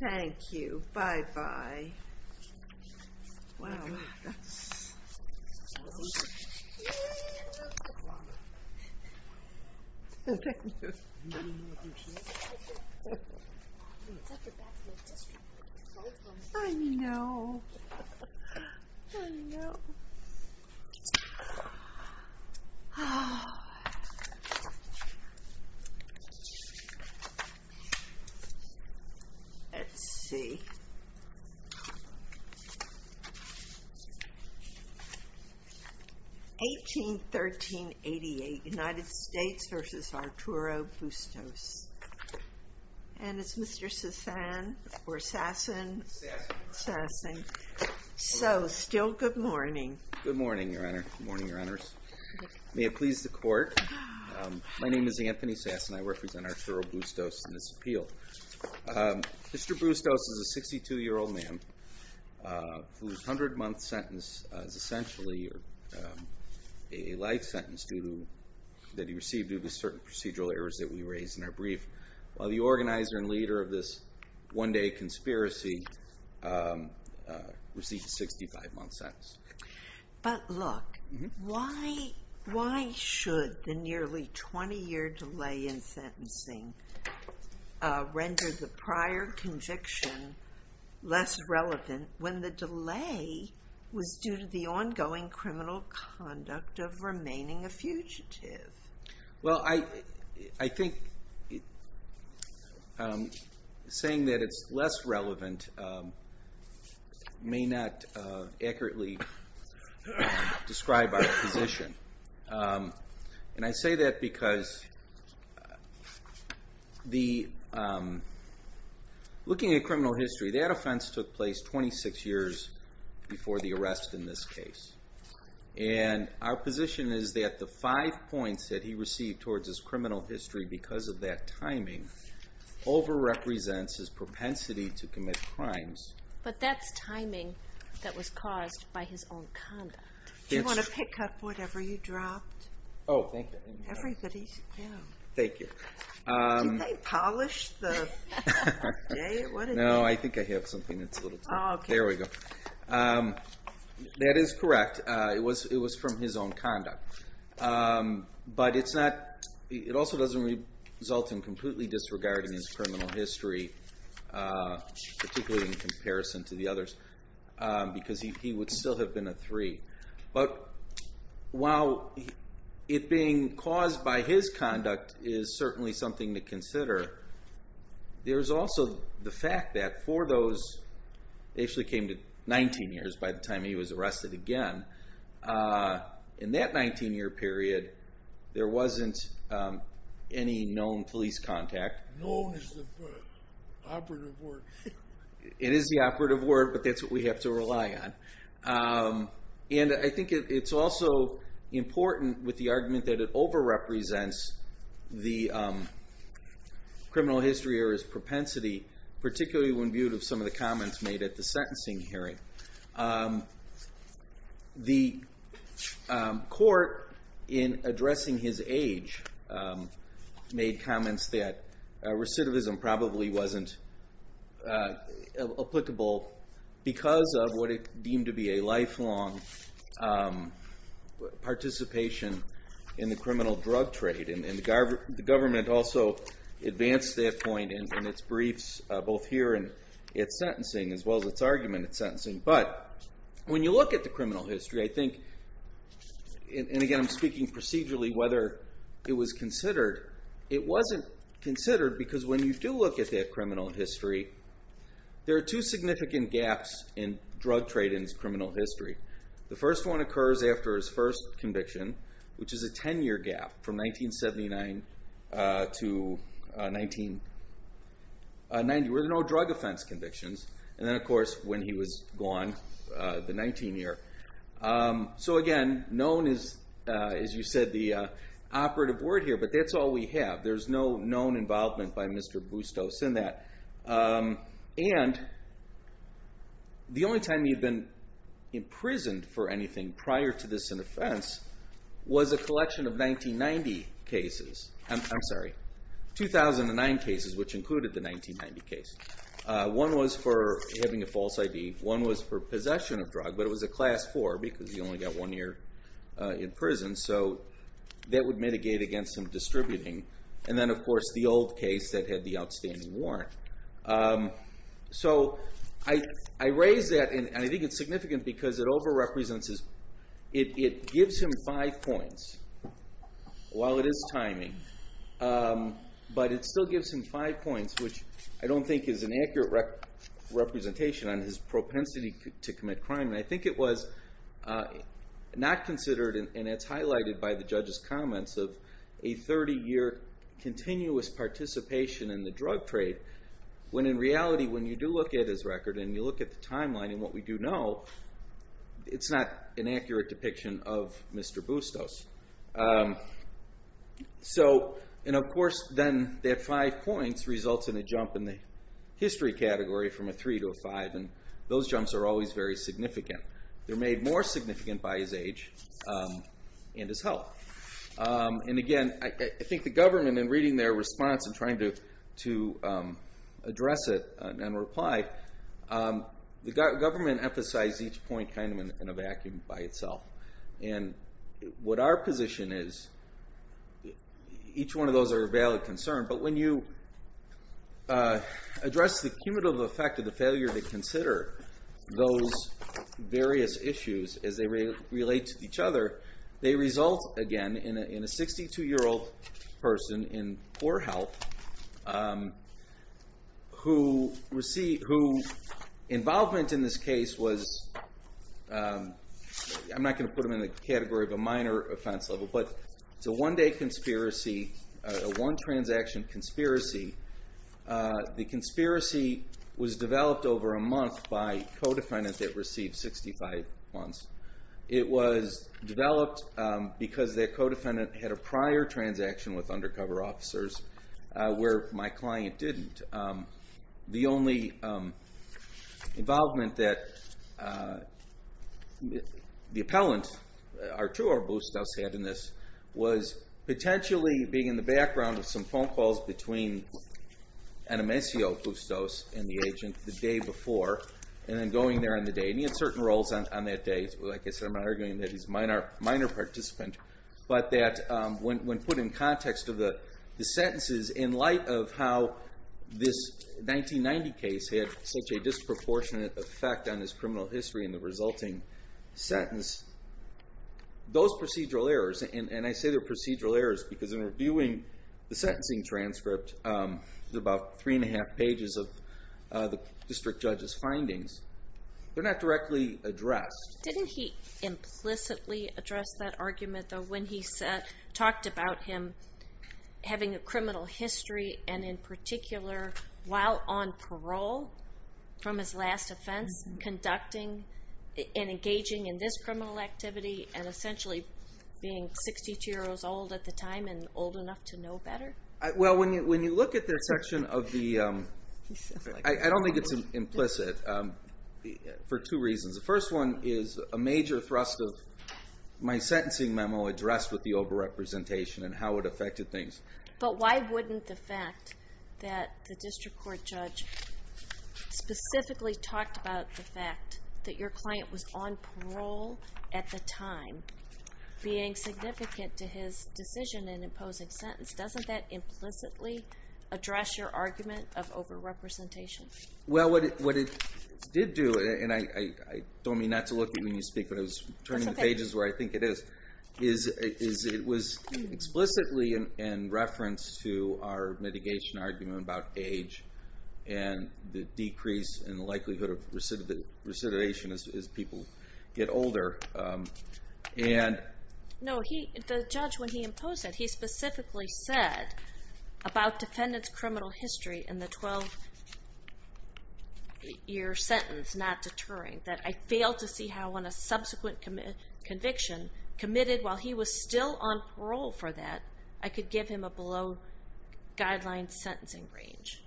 Thank you, bye-bye. Wow, that's... Thank you. I know. I know. Oh. Let's see. 1813-88 United States v. Arturo Bustos And it's Mr. Sasson or Sasson Sasson So, still good morning. Good morning, Your Honor. Good morning, Your Honors. May it please the Court. My name is Anthony Sasson. I represent Arturo Bustos in this appeal. Mr. Bustos is a 62-year-old man whose 100-month sentence is essentially a life sentence that he received due to certain procedural errors that we raised in our brief. While the organizer and leader of this one-day conspiracy received a 65-month sentence. But look, why should the life sentencing render the prior conviction less relevant when the delay was due to the ongoing criminal conduct of remaining a fugitive? Well, I think saying that it's less relevant may not accurately describe our position. And I say that because the looking at criminal history, that offense took place 26 years before the arrest in this case. And our position is that the five points that he received towards his criminal history because of that timing over-represents his propensity to commit crimes. But that's timing that was caused by his own conduct. Do you want to pick up whatever you dropped? Oh, thank you. Thank you. Did they polish the... No, I think I have something that's a little... There we go. That is correct. It was from his own conduct. But it also doesn't result in completely disregarding his criminal history, particularly in comparison to the others, because he would still have been a three. But while it being caused by his conduct is certainly something to consider, there's also the fact that for those... It actually came to 19 years by the time he was arrested again. In that 19 year period, there wasn't any known police contact. Known is the operative word. It is the operative word, but that's what we have to rely on. I think it's also important with the argument that it over-represents the criminal history or his propensity, particularly when viewed of some of the comments made at the sentencing hearing. The court in addressing his age made comments that recidivism probably wasn't applicable because of what it deemed to be a lifelong participation in the criminal drug trade. The government also advanced that point in its briefs, both here and at sentencing, as well as its argument at sentencing. But when you look at the criminal history, I think... And again, I'm speaking procedurally whether it was considered. It wasn't considered because when you do look at that criminal history, there are two significant gaps in drug trade and its criminal history. The first one occurs after his first conviction, which is a 10-year gap from 1979 to 1990. There were no drug offense convictions. And then, of course, when he was gone, the 19 year. So again, known is, as you said, the operative word here, but that's all we have. There's no known involvement by him. And the only time he had been imprisoned for anything prior to this in offense was a collection of 1990 cases. I'm sorry. 2009 cases, which included the 1990 case. One was for having a false ID. One was for possession of drug, but it was a Class IV because he only got one year in prison. So that would mitigate against him distributing. And then, of course, the old case that had the outstanding warrant. So I raise that, and I think it's significant because it over-represents his... It gives him five points while it is timing, but it still gives him five points, which I don't think is an accurate representation on his propensity to commit crime. And I think it was not considered and it's highlighted by the judge's comments of a 30-year continuous participation in the drug trade, when in reality when you do look at his record and you look at the timeline and what we do know, it's not an accurate depiction of Mr. Bustos. So, and of course, then that five points results in a jump in the history category from a three to a five, and those jumps are always very significant. They're made more significant by his age and his health. And again, I think the government in reading their response and trying to address it and reply, the government emphasized each point kind of in a vacuum by itself. And what our position is, each one of those are a valid concern, but when you address the cumulative effect of the failure to consider those various issues as they relate to each other, they result again in a 62-year-old person in poor health who involvement in this case was, I'm not going to put them in the category of a minor offense level, but it's a one-day conspiracy, a one-transaction conspiracy. The conspiracy was developed over a month by co-defendants that received 65 months. It was developed because the co-defendant had a prior transaction with undercover officers where my client didn't. The only involvement that the appellant, Arturo Bustos, had in this was potentially being in the background of some phone calls between Enemesio Bustos and the agent the day before and then going there on the day. He had certain roles on that day. I'm not arguing that he's a minor participant, but that when put in context of the sentences in light of how this 1990 case had such a disproportionate effect on his criminal history in the resulting sentence, those procedural errors, and I say they're procedural errors because in reviewing the sentencing transcript, there's about three and a half pages of the district judge's findings. They're not directly addressed. Didn't he implicitly address that argument though when he talked about him having a criminal history and in particular, while on parole from his last offense, conducting and engaging in this criminal activity and essentially being 62 years old at the time and old enough to know better? When you look at that section of the I don't think it's implicit for two reasons. The first one is a major thrust of my sentencing memo addressed with the over-representation and how it affected things. But why wouldn't the fact that the district court judge specifically talked about the fact that your client was on parole at the time being significant to his decision in imposing sentence, doesn't that implicitly address your argument of over-representation? Well, what it did do, and I don't mean not to look at you when you speak, but I was turning the pages where I think it is. It was explicitly in reference to our mitigation argument about age and the decrease in the likelihood of recidivation as people get older. No, the judge when he imposed it, he specifically said about defendant's criminal history in the 12 year sentence, not deterring, that I failed to see how on a subsequent conviction committed while he was still on parole for that, I could give him a below-guideline sentencing range.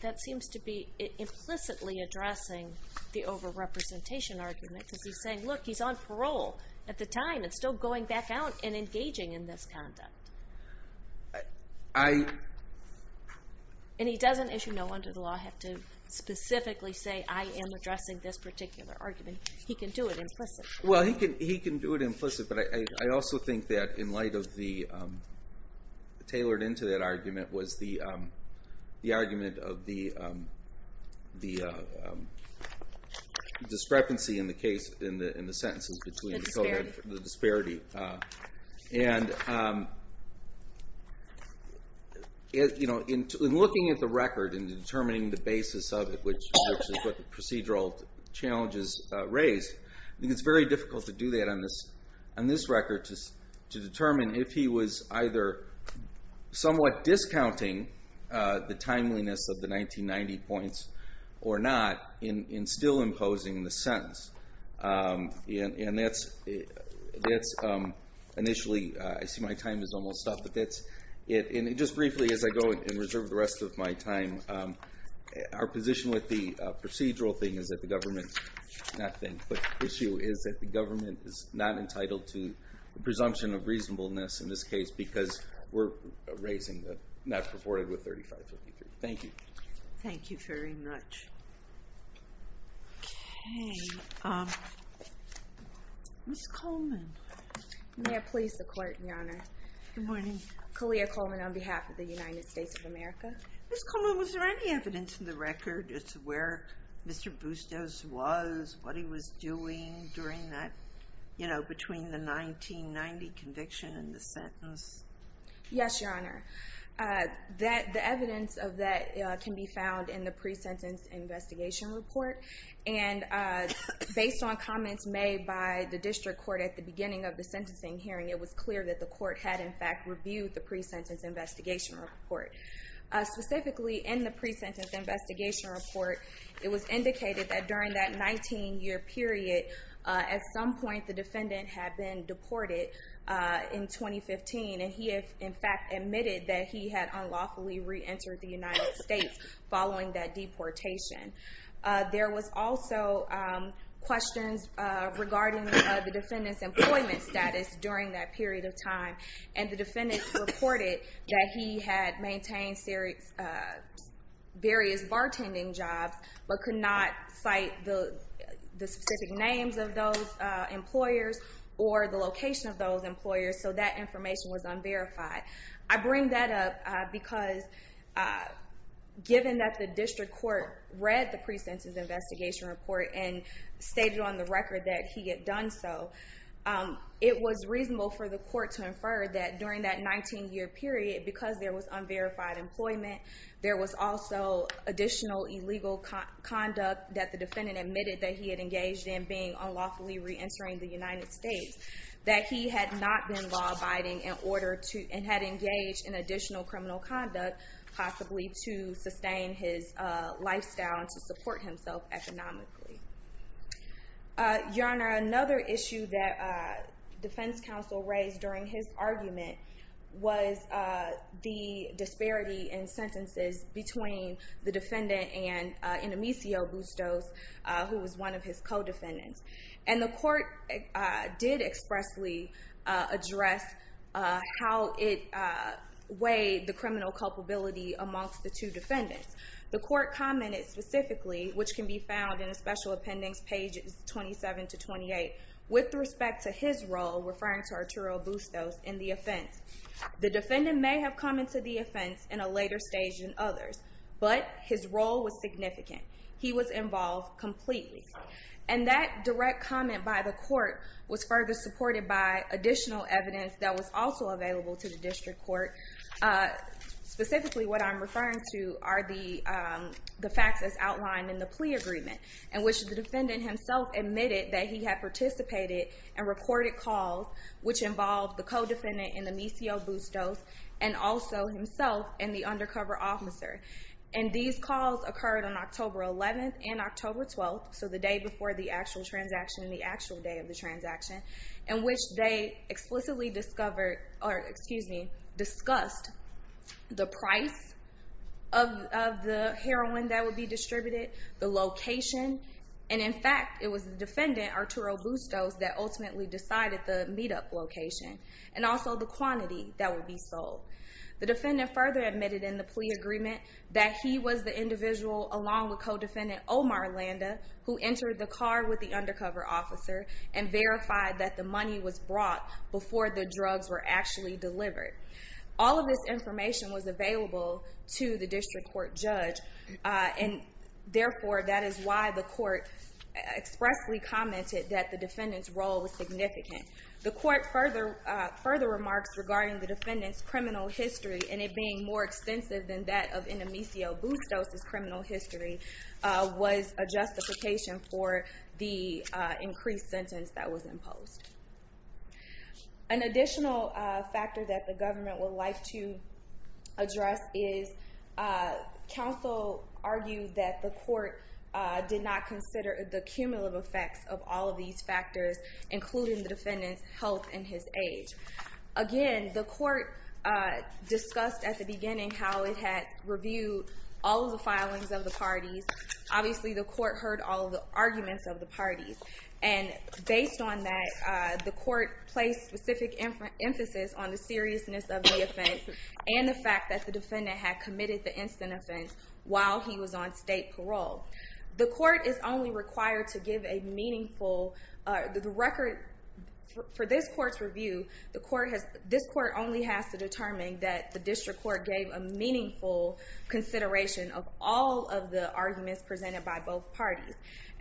That seems to be implicitly addressing the over-representation argument because he's saying, look, he's on parole at the time and still going back out and engaging in this conduct. I... And he doesn't issue no under the law have to specifically say, I am addressing this particular argument. He can do it implicitly. Well, he can do it implicitly, but I also think that in light of the tailored into that argument was the argument of the the discrepancy in the case, in the sentence between the disparity. And in looking at the record and determining the basis of it, which is what the procedural challenges raise, I think it's very difficult to do that on this record to determine if he was either somewhat discounting the timeliness of the 1990 points or not in still imposing the sentence. And that's initially, I see my time is almost up, and just briefly as I go and reserve the rest of my time, our position with the procedural thing is that the government, not thing, but issue is that the government is not entitled to the presumption of reasonableness in this case because we're raising the not purported with 3553. Thank you. Thank you very much. Okay. Ms. Coleman. May I please the court, Your Honor? Good morning. Kalia Coleman on behalf of the United States of America. Ms. Coleman, was there any evidence in the record as to where Mr. Bustos was, what he was doing during that, you know, between the 1990 conviction and the sentence? Yes, Your Honor. The evidence of that can be found in the pre-sentence investigation report. And based on comments made by the district court at the beginning of the sentencing hearing, it was clear that the court had in fact reviewed the pre-sentence investigation report. Specifically, in the pre-sentence investigation report, it was indicated that during that 19 year period, at some point the defendant had been deported in 2015. And he in fact admitted that he unlawfully re-entered the United States following that deportation. There was also questions regarding the defendant's employment status during that period of time. And the defendant reported that he had maintained various bartending jobs, but could not cite the specific names of those employers or the location of those employers. So that information was unverified. I bring that up because given that the district court read the pre-sentence investigation report and stated on the record that he had done so, it was reasonable for the court to infer that during that 19 year period, because there was unverified employment, there was also additional illegal conduct that the defendant admitted that he had engaged in being unlawfully re-entering the United States, that he had not been law-abiding and had engaged in additional criminal conduct possibly to sustain his lifestyle and to support himself economically. Your Honor, another issue that defense counsel raised during his argument was the disparity in sentences between the defendant and Indemicio Bustos, who was one of his co-defendants. And the court did expressly address how it weighed the criminal culpability amongst the two defendants. The court commented specifically, which can be found in the special appendix pages 27 to 28, with respect to his role, referring to Arturo Bustos, in the offense. The defendant may have come into the offense in a later stage than others, but his role was significant. He was involved completely. And that direct comment by the court was further supported by additional evidence that was also available to the district court. Specifically, what I'm referring to are the facts as outlined in the plea agreement in which the defendant himself admitted that he had participated and recorded calls, which involved the co-defendant Indemicio Bustos and also himself and the undercover officer. And these calls occurred on October 11th and October 12th, so the day before the actual transaction and the actual day of the transaction, in which they explicitly discovered or, excuse me, discussed the price of the heroin that would be distributed, the location, and in fact, it was the defendant, Arturo Bustos, that ultimately decided the meet-up location and also the quantity that would be sold. The defendant further admitted in the plea agreement that he was the individual, along with co-defendant Omar Landa, who entered the car with the undercover officer and verified that the money was brought before the drugs were actually delivered. All of this information was available to the district court judge and, therefore, that is why the court expressly commented that the defendant's role was significant. The court further remarks regarding the defendant's criminal history and it being more extensive than that of Inamicio Bustos' criminal history was a justification for the increased sentence that was imposed. An additional factor that the government would like to address is counsel argued that the court did not consider the cumulative effects of all of these factors, including the defendant's health and his age. Again, the court discussed at the beginning how it had reviewed all of the filings of the parties. Obviously, the court heard all of the arguments of the parties. Based on that, the court placed specific emphasis on the seriousness of the offense and the fact that the defendant had committed the instant offense while he was on state parole. The court is only required to give a meaningful record for this court's review. This court only has to determine that the district court gave a meaningful consideration of all of the arguments presented by both parties.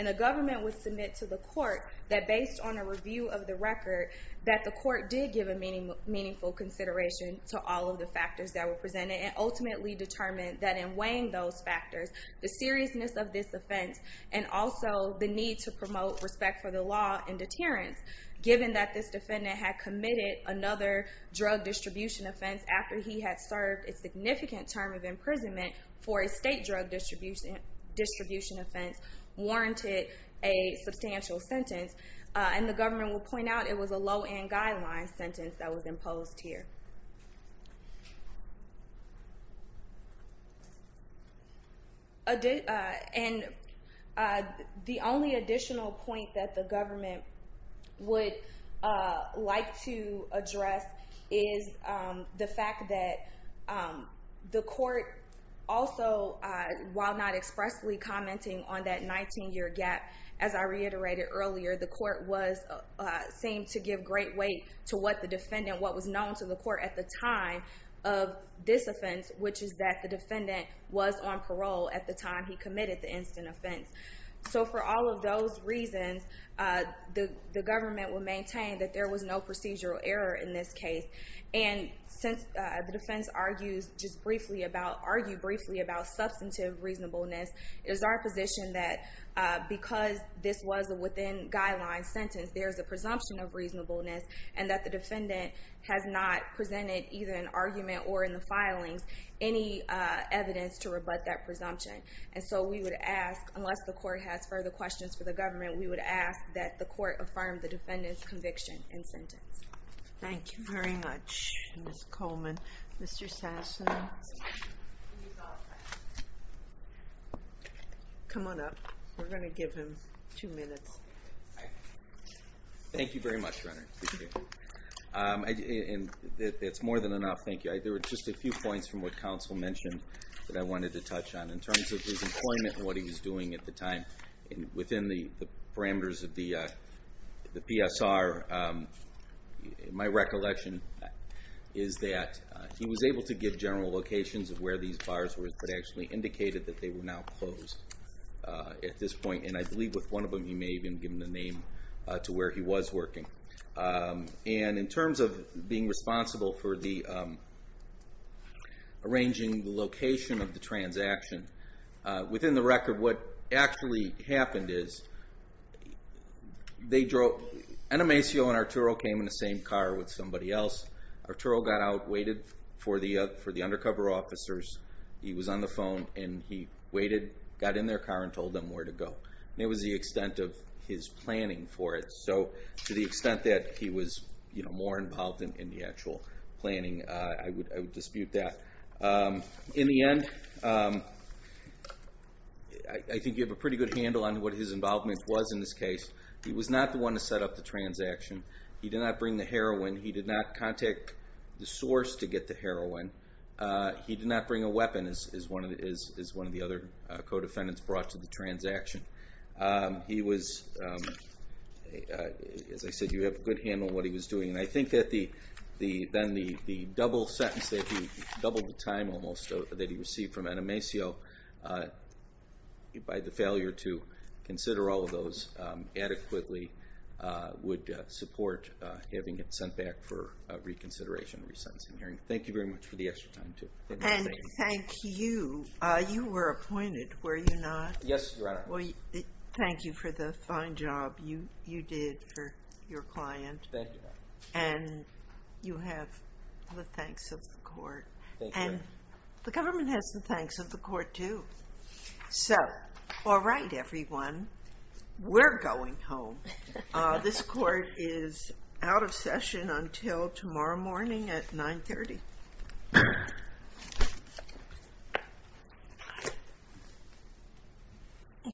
The government would submit to the court that based on a review of the record that the court did give a meaningful consideration to all of the factors that were presented and ultimately determined that in weighing those factors, the seriousness of this offense and also the need to promote respect for the law and deterrence given that this defendant had committed another drug distribution offense after he had served a significant term of imprisonment for a state drug distribution offense warranted a substantial sentence. The government would point out it was a low-end guideline sentence that was imposed here. The only additional point that the government would like to address is the fact that the court also, while not expressly commenting on that 19-year gap, as I reiterated earlier, the court seemed to give great weight to what the defendant, what was known to the court at the time of this offense, which is that the defendant was on parole at the time he committed the instant offense. For all of those reasons, the government would maintain that there was no procedural error in this case. Since the defense argued briefly about substantive reasonableness, it is our position that because this was a within-guideline sentence, there is a presumption of reasonableness and that the defendant has not presented, either in argument or in the filings, any evidence to rebut that presumption. And so we would ask, unless the court has further questions for the government, we would ask that the court affirm the defendant's conviction and sentence. Thank you very much, Ms. Coleman. Mr. Sasson? Come on up. We're going to give him two minutes. Thank you very much, Renner. It's more than enough. Thank you. There were just a few points from what counsel mentioned that I wanted to touch on. In terms of his employment and what he was doing at the time within the parameters of the PSR, my recollection is that he was able to give general locations of where these bars were, but actually indicated that they were now closed at this point. And I believe with one of them, he may have even given a name to where he was working. And in terms of being responsible for the arranging the location of the transaction, within the record, what actually happened is Enemacio and Arturo came in the same car with somebody else. Arturo got out, waited for the undercover officers. He was on the phone, and he waited, got in their car, and told them where to go. And it was the extent of his planning for it. So to the extent that he was more involved in the actual planning, I would dispute that. In the end, I think you have a pretty good handle on what his involvement was in this case. He was not the one to set up the transaction. He did not bring the heroin. He did not contact the source to get the heroin. He did not bring a weapon, as one of the other co-defendants brought to the transaction. He was, as I said, you have a good handle on what he was doing. And I think that the double sentence, that he doubled the time that he received from Enemacio by the failure to consider all of those adequately would support having it sent back for reconsideration and resentencing hearing. Thank you very much for the extra time. And thank you. You were appointed, were you not? Yes, Your Honor. Thank you for the fine job you did for your client. Thank you, Your Honor. And you have the thanks of the court. The government has the thanks of the court, too. So, all right, everyone. We're going home. This court is out of session until tomorrow morning at 9.30.